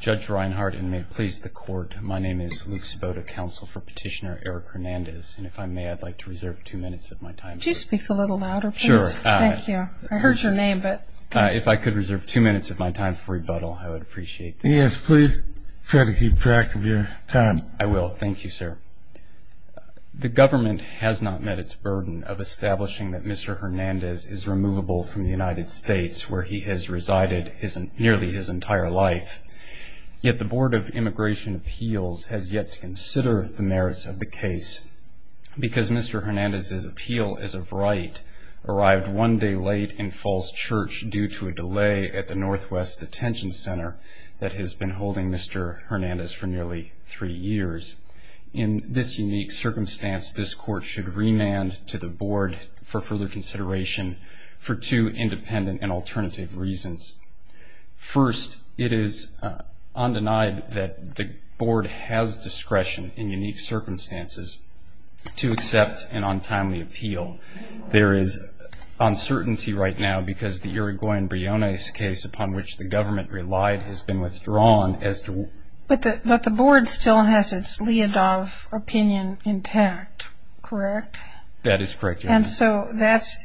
Judge Reinhardt and may it please the court. My name is Luke Spoda counsel for petitioner Eric Hernandez And if I may I'd like to reserve two minutes of my time to speak a little louder. Sure Thank you. I heard your name, but if I could reserve two minutes of my time for rebuttal, I would appreciate yes, please Try to keep track of your time. I will thank you, sir The government has not met its burden of establishing that. Mr Hernandez is removable from the United States where he has resided isn't nearly his entire life Yet the Board of Immigration Appeals has yet to consider the merits of the case Because mr. Hernandez's appeal is of right Arrived one day late in Falls Church due to a delay at the Northwest Detention Center that has been holding mr Hernandez for nearly three years in this unique circumstance This court should remand to the board for further consideration for two independent and alternative reasons First it is Undenied that the board has discretion in unique circumstances to accept an untimely appeal there is Uncertainty right now because the Uruguayan Briones case upon which the government relied has been withdrawn as to But the but the board still has its leadoff opinion intact Correct. That is correct. And so that's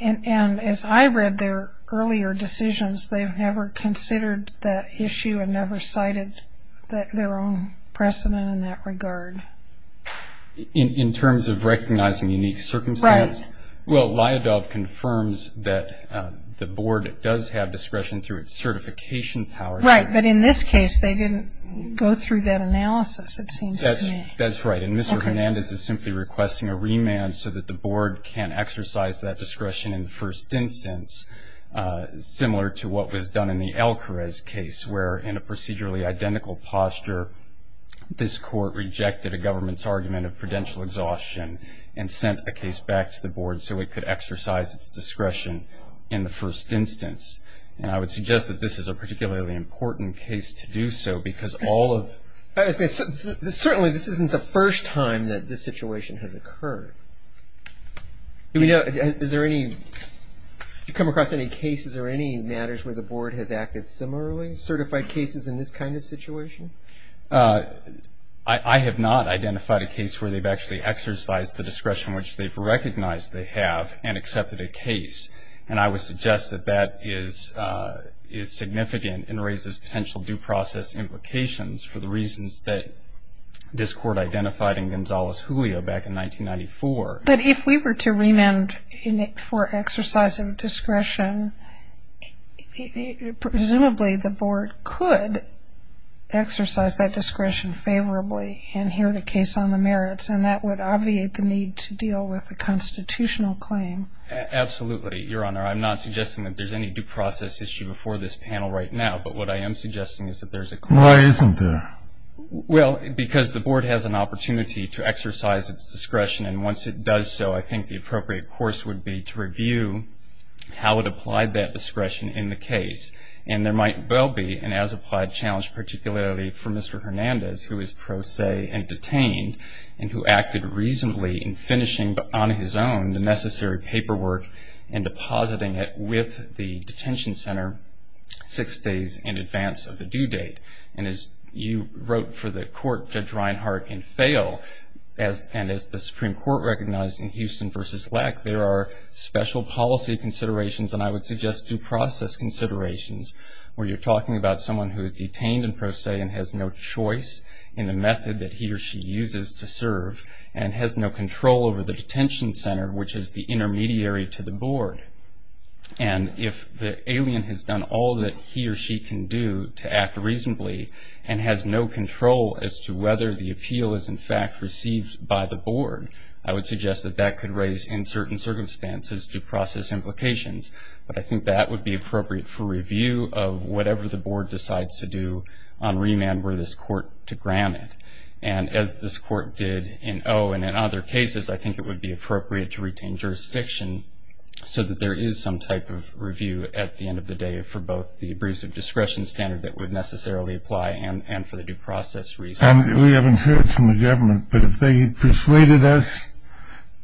And as I read their earlier decisions They've never considered that issue and never cited that their own precedent in that regard In terms of recognizing unique circumstance, right? Well liadoff confirms that the board does have discretion through its certification power, right? But in this case, they didn't go through that analysis. It seems that's right Hernandez is simply requesting a remand so that the board can't exercise that discretion in the first instance Similar to what was done in the Alcarez case where in a procedurally identical posture this court rejected a government's argument of prudential exhaustion and Sent a case back to the board so it could exercise its discretion in the first instance and I would suggest that this is a particularly important case to do so because all of Certainly, this isn't the first time that this situation has occurred Do we know is there any? You come across any cases or any matters where the board has acted similarly certified cases in this kind of situation I Have not identified a case where they've actually exercised the discretion which they've recognized they have and accepted a case And I would suggest that that is Is significant and raises potential due process implications for the reasons that This court identified in Gonzales Julio back in 1994, but if we were to remand in it for exercise of discretion Presumably the board could Exercise that discretion favorably and hear the case on the merits and that would obviate the need to deal with the constitutional claim Absolutely, your honor, I'm not suggesting that there's any due process issue before this panel right now But what I am suggesting is that there's a client isn't there? Well, because the board has an opportunity to exercise its discretion and once it does so I think the appropriate course would be to review How it applied that discretion in the case and there might well be and as applied challenge particularly for mr Hernandez who is pro se and detained and who acted reasonably in finishing but on his own the necessary paperwork and Depositing it with the detention center six days in advance of the due date and as you wrote for the court judge Reinhardt and fail as And as the Supreme Court recognized in Houston versus lack there are special policy considerations And I would suggest due process considerations where you're talking about someone who is detained and pro se and has no choice In the method that he or she uses to serve and has no control over the detention center Which is the intermediary to the board? and if the alien has done all that he or she can do to act reasonably and Has no control as to whether the appeal is in fact received by the board I would suggest that that could raise in certain circumstances due process implications But I think that would be appropriate for review of whatever the board decides to do on Remand where this court to grant it and as this court did in oh and in other cases I think it would be appropriate to retain jurisdiction So that there is some type of review at the end of the day for both the abrasive discretion Standard that would necessarily apply and and for the due process reason we haven't heard from the government, but if they persuaded us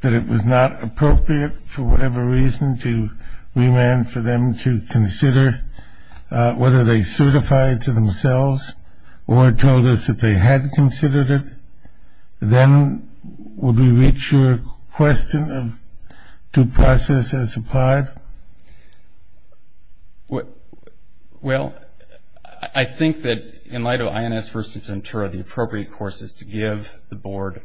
That it was not appropriate for whatever reason to remand for them to consider Whether they certified to themselves or told us that they had considered it Then would we reach your question of due process as applied? What Well, I think that in light of INS versus Ventura the appropriate course is to give the board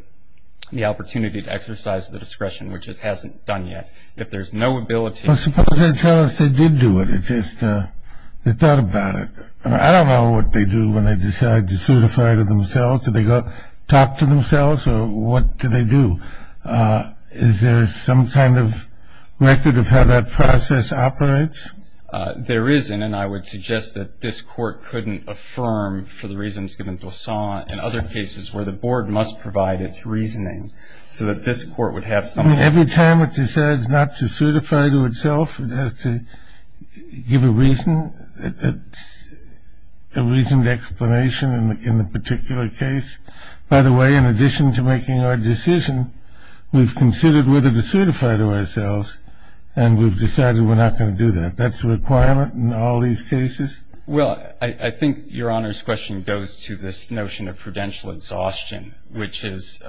The opportunity to exercise the discretion which it hasn't done yet if there's no ability I suppose they tell us they did do it. It's just They thought about it. I don't know what they do when they decide to certify to themselves Do they go talk to themselves or what do they do? Is there some kind of record of how that process operates? There isn't and I would suggest that this court couldn't affirm for the reasons given to saw in other cases where the board must provide It's reasoning so that this court would have something every time it decides not to certify to itself. It has to give a reason that The reason the explanation and in the particular case by the way in addition to making our decision We've considered whether to certify to ourselves and we've decided we're not going to do that That's the requirement in all these cases Well, I think your honor's question goes to this notion of prudential exhaustion, which is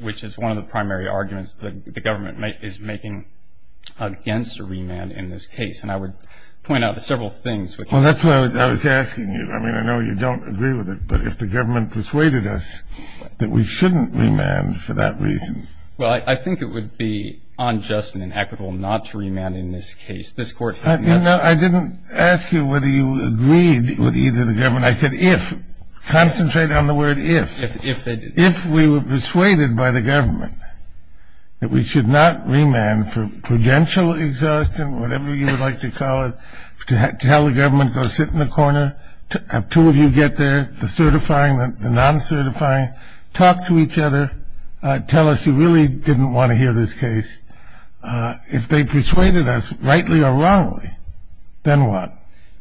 Which is one of the primary arguments that the government make is making Against a remand in this case and I would point out the several things. Well, that's what I was asking you I mean, I know you don't agree with it, but if the government persuaded us that we shouldn't remand for that reason Well, I think it would be unjust and inequitable not to remand in this case this court You know, I didn't ask you whether you agreed with either the government I said if Concentrate on the word if if they did if we were persuaded by the government That we should not remand for prudential exhaustion Whatever you would like to call it to have to tell the government go sit in the corner To have two of you get there the certifying that the non certifying talk to each other Tell us you really didn't want to hear this case If they persuaded us rightly or wrongly Then what?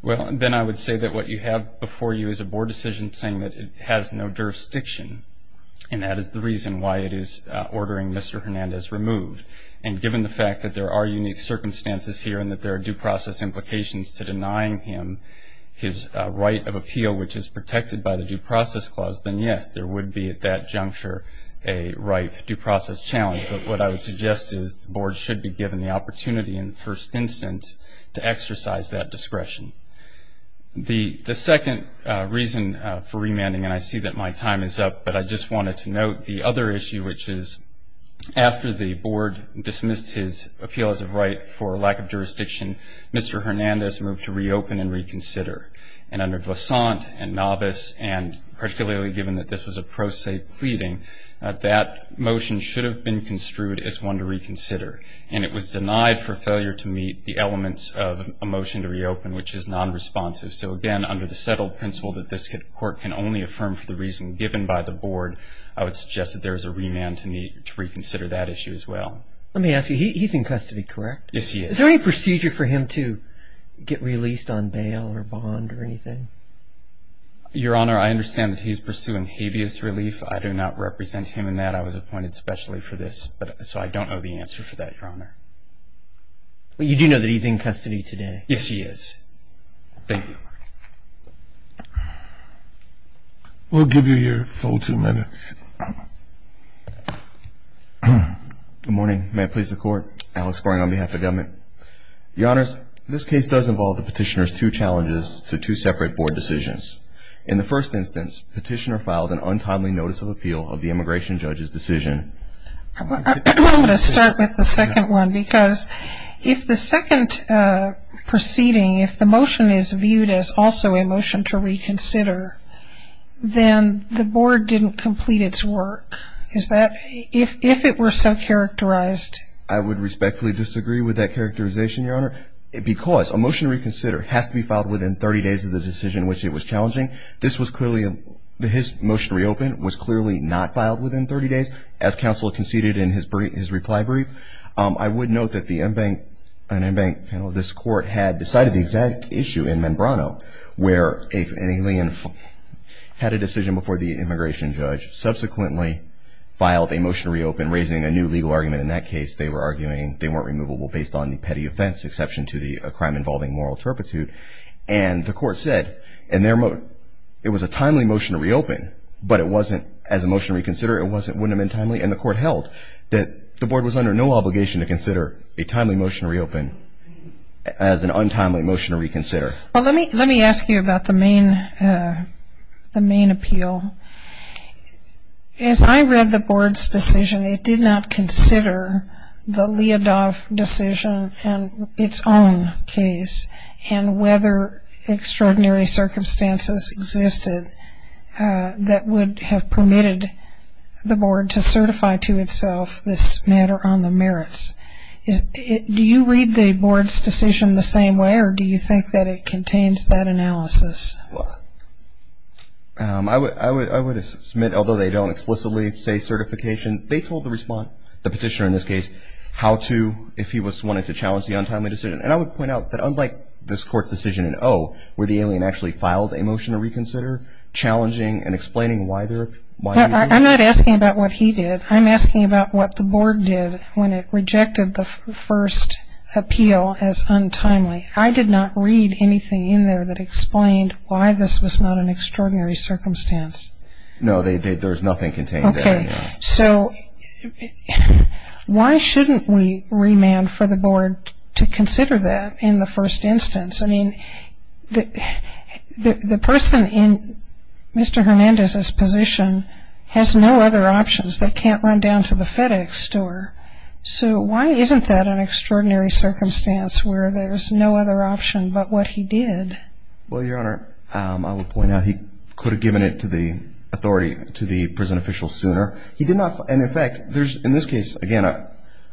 Well, then I would say that what you have before you is a board decision saying that it has no jurisdiction And that is the reason why it is ordering. Mr. Hernandez removed and given the fact that there are unique circumstances here and that there are due process implications to denying him His right of appeal which is protected by the due process clause Then yes, there would be at that juncture a right due process challenge But what I would suggest is the board should be given the opportunity in the first instance to exercise that discretion the the second reason for remanding and I see that my time is up, but I just wanted to note the other issue which is After the board dismissed his appeal as a right for lack of jurisdiction. Mr Hernandez moved to reopen and reconsider and under glissant and novice and Particularly given that this was a pro se pleading That motion should have been construed as one to reconsider and it was denied for failure to meet the elements of a motion to reopen Which is non-responsive. So again under the settled principle that this court can only affirm for the reason given by the board I would suggest that there's a remand to meet to reconsider that issue as well. Let me ask you He's in custody, correct? Yes. He is there any procedure for him to get released on bail or bond or anything? Your honor, I understand that he's pursuing habeas relief. I do not represent him in that I was appointed specially for this But so I don't know the answer for that your honor But you do know that he's in custody today. Yes, he is Thank you We'll give you your full two minutes Good morning, may I please the court Alex going on behalf of government The honors this case does involve the petitioners two challenges to two separate board decisions in the first instance petitioner filed an untimely notice of appeal of the immigration judge's decision I Start with the second one because if the second Proceeding if the motion is viewed as also a motion to reconsider Then the board didn't complete its work. Is that if if it were so characterized I would respectfully disagree with that characterization your honor Because a motion reconsider has to be filed within 30 days of the decision which it was challenging This was clearly a his motion reopened was clearly not filed within 30 days as counsel conceded in his brief his reply brief I would note that the embankment an embankment panel this court had decided the exact issue in membrano where if any lien Had a decision before the immigration judge subsequently Filed a motion to reopen raising a new legal argument in that case they were arguing they weren't removable based on the petty offense exception to the crime involving moral turpitude and The court said in their mode. It was a timely motion to reopen, but it wasn't as a motion reconsider It wasn't wouldn't been timely and the court held that the board was under no obligation to consider a timely motion to reopen As an untimely motion to reconsider. Well, let me let me ask you about the main the main appeal As I read the board's decision it did not consider the Leodoff decision and its own case and whether extraordinary circumstances existed That would have permitted The board to certify to itself this matter on the merits Is it do you read the board's decision the same way or do you think that it contains that analysis? I Would I would I would have submit although they don't explicitly say certification They told the respond the petitioner in this case How to if he was wanting to challenge the untimely decision and I would point out that unlike this court's decision in Oh Where the alien actually filed a motion to reconsider? Challenging and explaining why they're why I'm not asking about what he did I'm asking about what the board did when it rejected the first Appeal as untimely I did not read anything in there that explained why this was not an extraordinary circumstance No, they did. There's nothing contained. Okay, so Why shouldn't we remand for the board to consider that in the first instance, I mean The person in Mr. Hernandez's position has no other options that can't run down to the FedEx store So, why isn't that an extraordinary circumstance where there's no other option, but what he did well your honor I would point out he could have given it to the authority to the prison official sooner he did not and in fact, there's in this case again, uh,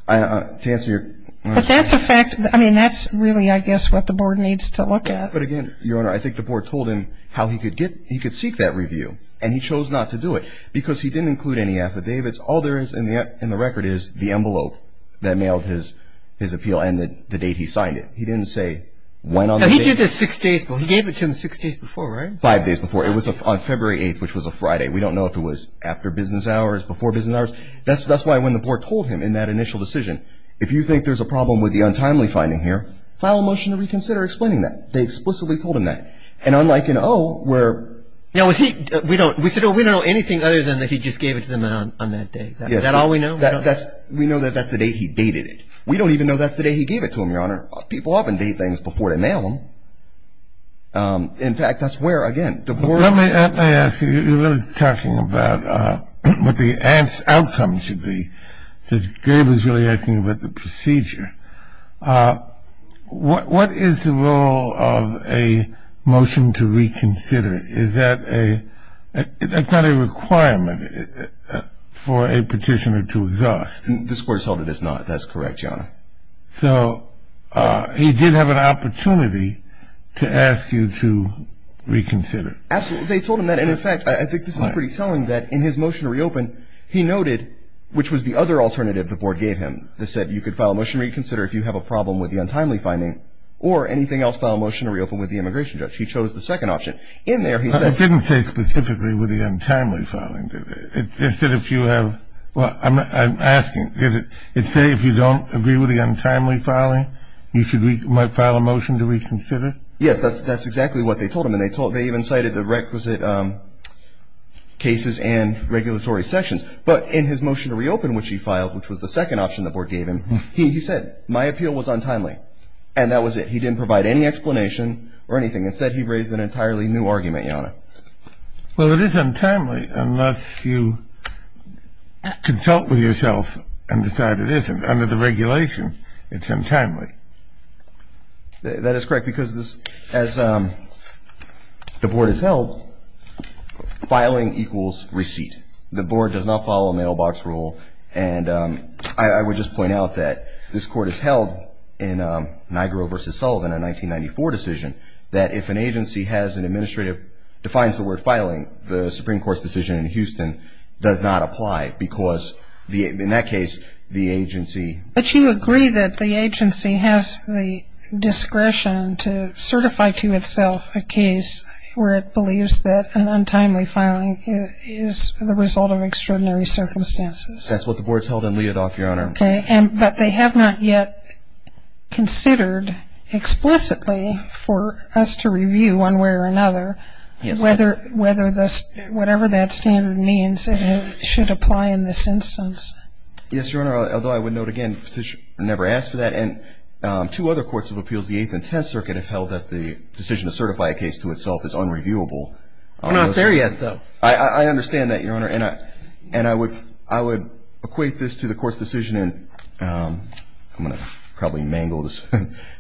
I Answer but that's a fact. I mean that's really I guess what the board needs to look at but again your honor I think the board told him how he could get he could seek that review and he chose not to do it because he didn't Include any affidavits all there is in the in the record is the envelope that mailed his his appeal and that the date He signed it. He didn't say went on he did this six days But he gave it to him six days before right five days before it was a fun February 8th, which was a Friday We don't know if it was after business hours before business hours That's that's why when the board told him in that initial decision If you think there's a problem with the untimely finding here file a motion to reconsider explaining that they explicitly told him that and unlike In oh, we're now is he we don't we said oh, we don't know anything other than that He just gave it to them on that day. Is that all we know that that's we know that that's the day He dated it. We don't even know that's the day. He gave it to him your honor people often date things before they mail them In fact, that's where again Talking about what the ants outcome should be this game is really I think about the procedure What what is the role of a motion to reconsider is that a That's not a requirement For a petitioner to exhaust the square sold. It is not that's correct. Yeah, so He did have an opportunity to ask you to Reconsider absolutely. They told him that in effect. I think this is pretty telling that in his motion to reopen He noted which was the other alternative the board gave him the said you could file a motion reconsider If you have a problem with the untimely finding or anything else file motion to reopen with the immigration judge He chose the second option in there. He said it didn't say specifically with the untimely filing Instead if you have well, I'm asking is it it say if you don't agree with the untimely filing You should we might file a motion to reconsider. Yes, that's that's exactly what they told him and they told they even cited the requisite Cases and regulatory sections, but in his motion to reopen which he filed which was the second option that board gave him He said my appeal was untimely and that was it. He didn't provide any explanation or anything instead. He raised an entirely new argument, you know Well, it is untimely unless you Consult with yourself and decide it isn't under the regulation. It's untimely That is correct because this as The board is held Filing equals receipt the board does not follow a mailbox rule and I would just point out that this court is held in Nigro versus Sullivan a 1994 decision that if an agency has an administrative defines the word filing the Supreme Court's decision in Houston does not apply because the in that case the agency, but you agree that the agency has the Untimely filing is the result of extraordinary circumstances. That's what the board's held in Lee it off your honor. Okay, and but they have not yet considered Explicitly for us to review one way or another Yes, whether whether this whatever that standard means it should apply in this instance Yes, your honor although I would note again petition never asked for that and Two other courts of appeals the 8th and 10th circuit have held that the decision to certify a case to itself is unreviewable I'm not there yet, though I I understand that your honor and I and I would I would equate this to the court's decision and I'm gonna probably mangle this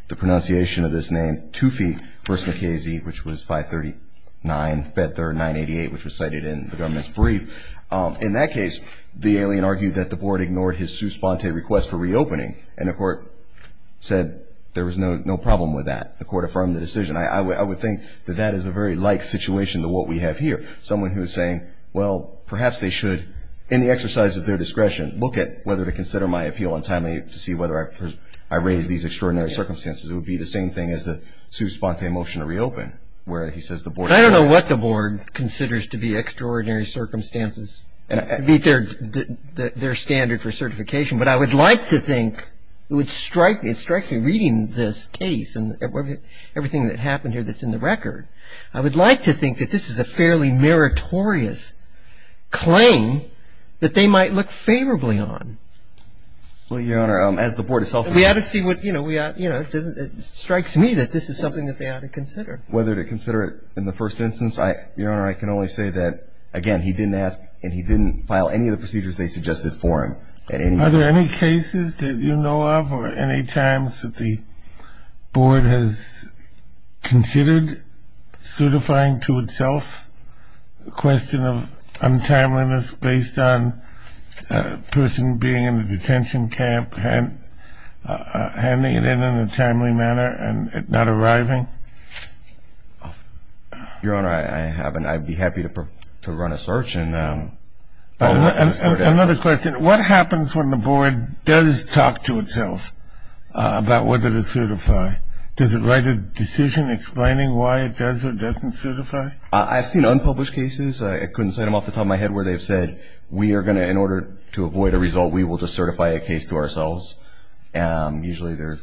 the pronunciation of this name two feet versus McKay Z Which was 539 bet their 988 which was cited in the government's brief In that case the alien argued that the board ignored his sue sponte request for reopening and the court Said there was no no problem with that the court affirmed the decision I would think that that is a very like situation to what we have here someone who is saying well Perhaps they should in the exercise of their discretion look at whether to consider my appeal on timely to see whether I Raise these extraordinary circumstances. It would be the same thing as the sue sponte motion to reopen where he says the board I don't know what the board considers to be extraordinary circumstances and beat their Their standard for certification, but I would like to think it would strike me Reading this case and everything that happened here. That's in the record. I would like to think that this is a fairly meritorious Claim that they might look favorably on Well your honor as the board itself we have to see what you know We are you know, it doesn't it strikes me that this is something that they ought to consider whether to consider it in the first instance I your honor I can only say that again He didn't ask and he didn't file any of the procedures they suggested for him Are there any cases that you know of or any times that the board has considered certifying to itself the question of untimeliness based on Person being in the detention camp and handing it in in a timely manner and not arriving Your honor I haven't I'd be happy to run a search and Another question what happens when the board does talk to itself About whether to certify does it write a decision explaining why it does or doesn't certify I've seen unpublished cases I couldn't say them off the top of my head where they've said we are gonna in order to avoid a result we will just certify a case to ourselves and Usually there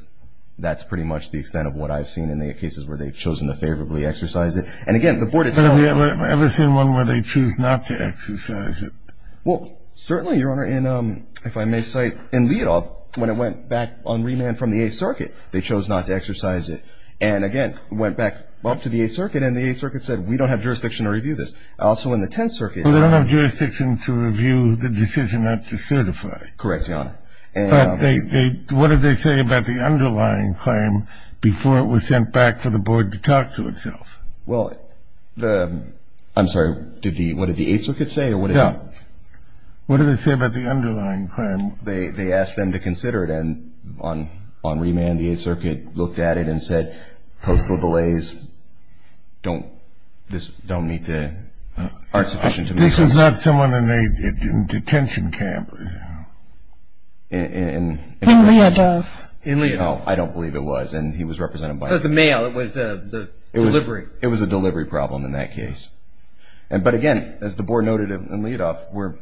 that's pretty much the extent of what I've seen in the cases where they've chosen to favorably exercise it and again the board It's never seen one where they choose not to exercise it Well, certainly your honor in if I may say in Lidov when it went back on remand from the 8th circuit They chose not to exercise it and again went back up to the 8th circuit and the 8th circuit said we don't have jurisdiction to Review this also in the 10th circuit. They don't have jurisdiction to review the decision not to certify correct Yeah, and they what did they say about the underlying claim before it was sent back for the board to talk to itself Well, the I'm sorry, did the what did the 8th circuit say or what yeah What did they say about the underlying crime? They they asked them to consider it and on on remand the 8th circuit looked at it and said postal delays Don't this don't meet the Art sufficient to this was not someone in a detention camp In In Lidov, I don't believe it was and he was represented by the mail it was Delivery, it was a delivery problem in that case. And but again as the board noted in Lidov were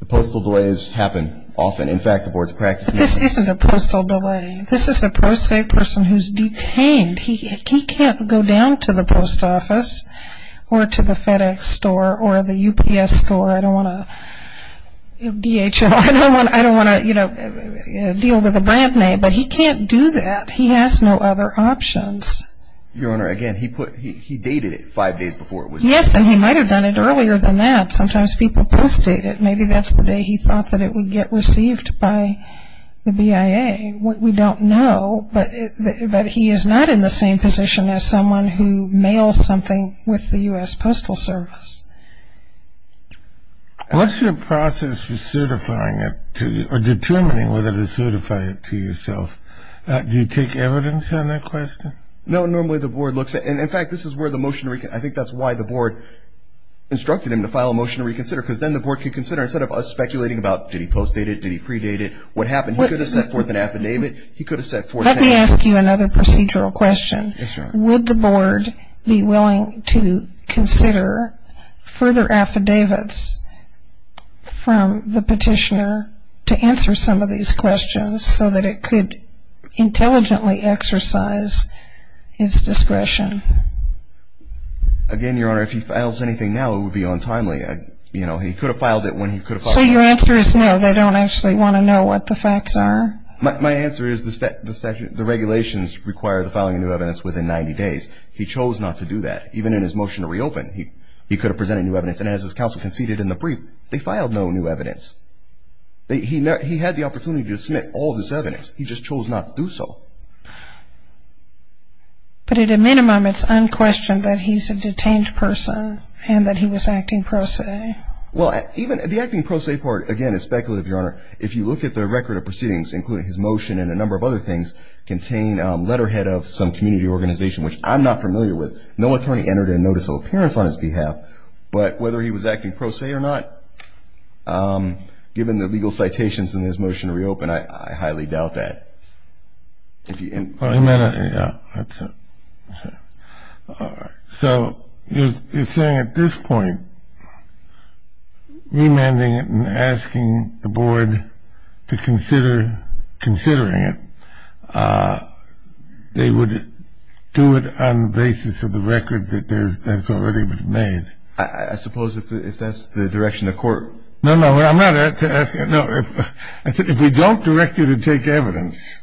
The postal delays happen often. In fact, the board's practice. This isn't a postal delay. This is a person who's detained He can't go down to the post office Or to the FedEx store or the UPS store. I don't want to DHL I don't want I don't want to you know Deal with a brand name, but he can't do that. He has no other options Your honor again, he put he dated it five days before it was yes And he might have done it earlier than that. Sometimes people post it. Maybe that's the day He thought that it would get received by The BIA what we don't know But that he is not in the same position as someone who mails something with the US Postal Service What's your process for certifying it to you or determining whether to certify it to yourself Do you take evidence on that question? No, normally the board looks at and in fact, this is where the motion I think that's why the board Instructed him to file a motion to reconsider because then the board could consider instead of us speculating about did he post dated? Did he predate it what happened? What is that for the affidavit? He could have said for let me ask you another procedural question Would the board be willing to consider? Further affidavits From the petitioner to answer some of these questions so that it could intelligently exercise its discretion Again your honor if he files anything now, it would be on timely You know, he could have filed it when he could say your answer is no They don't actually want to know what the facts are My answer is the statute the regulations require the following new evidence within 90 days He chose not to do that Even in his motion to reopen he he could have presented new evidence and as his counsel conceded in the brief They filed no new evidence They he had the opportunity to submit all this evidence. He just chose not to do so But at a minimum it's unquestioned that he's a detained person and that he was acting pro se Well, even the acting pro se part again is speculative your honor If you look at the record of proceedings including his motion and a number of other things Contain letterhead of some community organization, which I'm not familiar with No attorney entered a notice of appearance on his behalf, but whether he was acting pro se or not Given the legal citations in his motion to reopen. I highly doubt that So you're saying at this point Remanding and asking the board to consider considering it They would do it on the basis of the record that there's that's already been made I suppose if that's the direction of court. No, no, I'm not If I said if we don't direct you to take evidence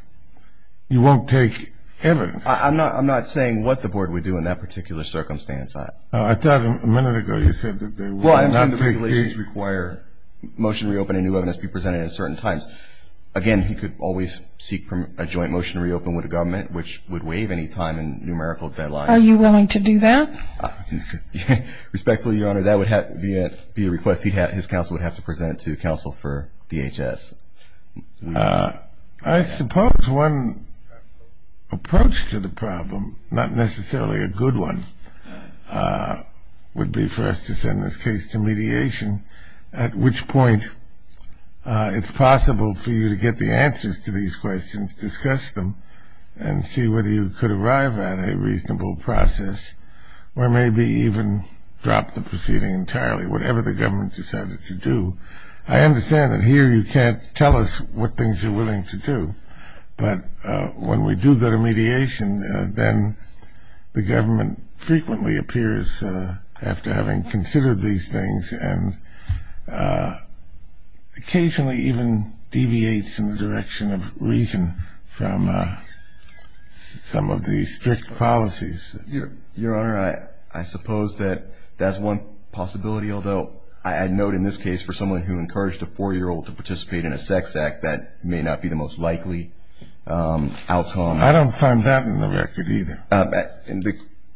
You won't take evidence. I'm not I'm not saying what the board would do in that particular circumstance I I thought a minute ago. You said that they were under regulations require Motion reopening new evidence be presented at certain times Again, he could always seek from a joint motion to reopen with a government which would waive any time and numerical deadline Are you willing to do that? Respectfully your honor that would have yet be a request. He had his counsel would have to present to counsel for DHS I suppose one Approach to the problem not necessarily a good one Would be for us to send this case to mediation at which point it's possible for you to get the answers to these questions discuss them and See whether you could arrive at a reasonable process Or maybe even drop the proceeding entirely. Whatever the government decided to do I understand that here you can't tell us what things you're willing to do, but when we do that a mediation then The government frequently appears after having considered these things and Occasionally even deviates in the direction of reason from Some of these strict policies Your honor. I I suppose that that's one possibility Although I had note in this case for someone who encouraged a four-year-old to participate in a sex act that may not be the most likely Outcome I don't find that in the record either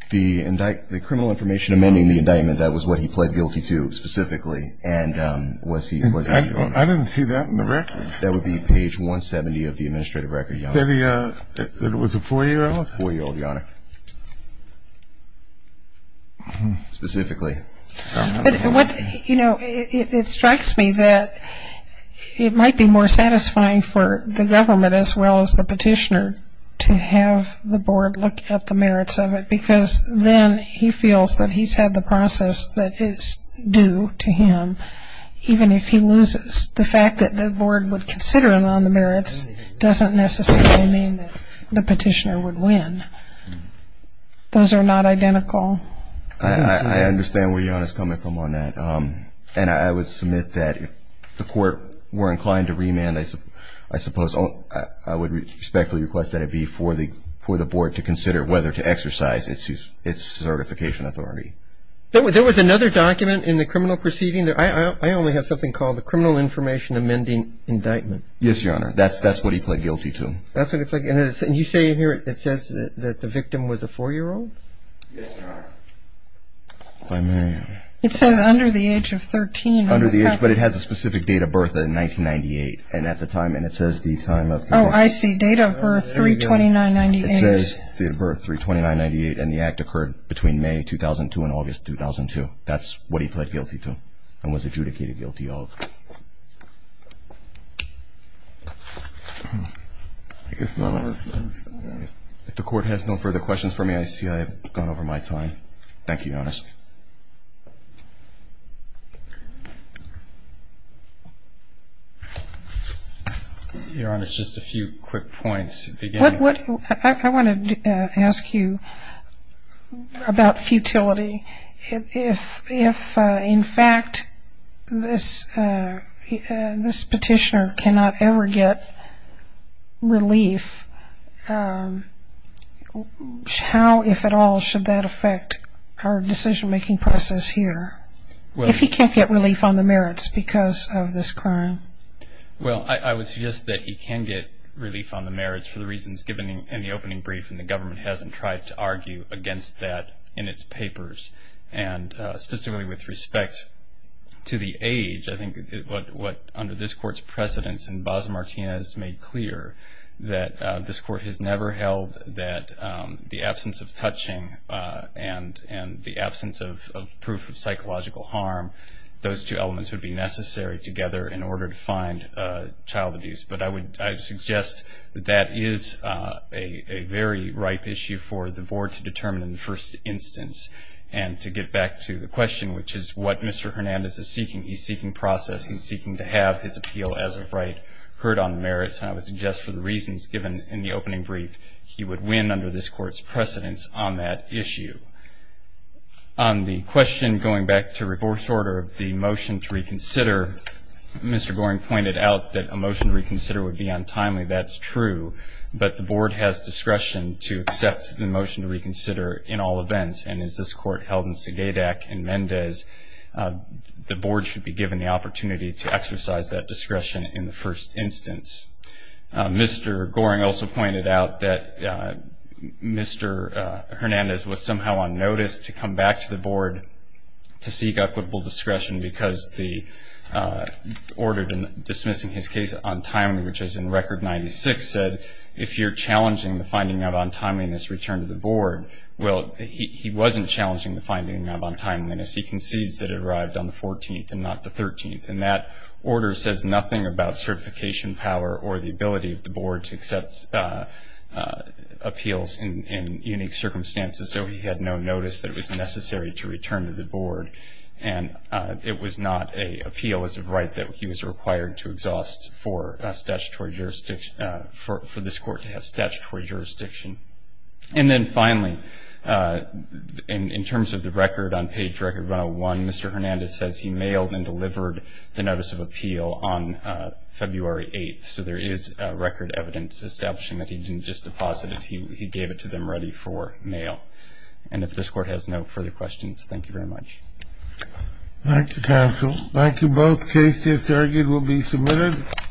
The indictment the criminal information amending the indictment. That was what he pled guilty to specifically and Was he I didn't see that in the record. That would be page 170 of the administrative record. Yeah Yeah, it was a four-year-old four-year-old your honor Specifically What you know it strikes me that It might be more satisfying for the government as well as the petitioner To have the board look at the merits of it because then he feels that he's had the process that is due to him Even if he loses the fact that the board would consider him on the merits doesn't necessarily mean the petitioner would win Those are not identical. I Were inclined to remand as I suppose Oh, I would respectfully request that it be for the for the board to consider whether to exercise its use its certification authority There was there was another document in the criminal proceeding there. I only have something called the criminal information amending indictment. Yes, your honor That's that's what he pled guilty to You say here it says that the victim was a four-year-old It says under the age of 13 under the age But it has a specific date of birth in 1998 and at the time and it says the time of oh I see date of birth 329 98 says the birth 329 98 and the act occurred between May 2002 and August 2002 that's what he pled guilty to and was adjudicated guilty of If the court has no further questions for me, I see I've gone over my time. Thank you honest I Want to ask you about futility if if in fact this This petitioner cannot ever get relief How If at all should that affect our decision-making process here Well, if he can't get relief on the merits because of this crime Well, I would suggest that he can get relief on the merits for the reasons given in the opening brief and the government hasn't tried to argue against that in its papers and specifically with respect To the age. I think what what under this court's precedence and boss Martinez made clear that This court has never held that the absence of touching and and the absence of proof of psychological harm Those two elements would be necessary together in order to find Child abuse, but I would suggest that is a very ripe issue for the board to determine in the first instance And to get back to the question, which is what? Mr. Hernandez is seeking. He's seeking process He's seeking to have his appeal as of right heard on the merits I would suggest for the reasons given in the opening brief. He would win under this court's precedence on that issue On the question going back to reverse order of the motion to reconsider Mr. Goring pointed out that a motion reconsider would be untimely. That's true But the board has discretion to accept the motion to reconsider in all events and is this court held in Saga deck and Mendez? The board should be given the opportunity to exercise that discretion in the first instance Mr. Goring also pointed out that Mr. Hernandez was somehow on notice to come back to the board to seek equitable discretion because the Ordered in dismissing his case on time Which is in record 96 said if you're challenging the finding of untimeliness return to the board Well, he wasn't challenging the finding of untimeliness He concedes that it arrived on the 14th and not the 13th and that order says nothing about certification power or the ability of the board to accept Appeals in unique circumstances, so he had no notice that it was necessary to return to the board and It was not a appeal as of right that he was required to exhaust for statutory jurisdiction For this court to have statutory jurisdiction and then finally In terms of the record on page record 101. Mr. Hernandez says he mailed and delivered the notice of appeal on February 8th, so there is record evidence establishing that he didn't just deposit it He gave it to them ready for mail. And if this court has no further questions, thank you very much Thank you counsel. Thank you both case. Just argued will be submitted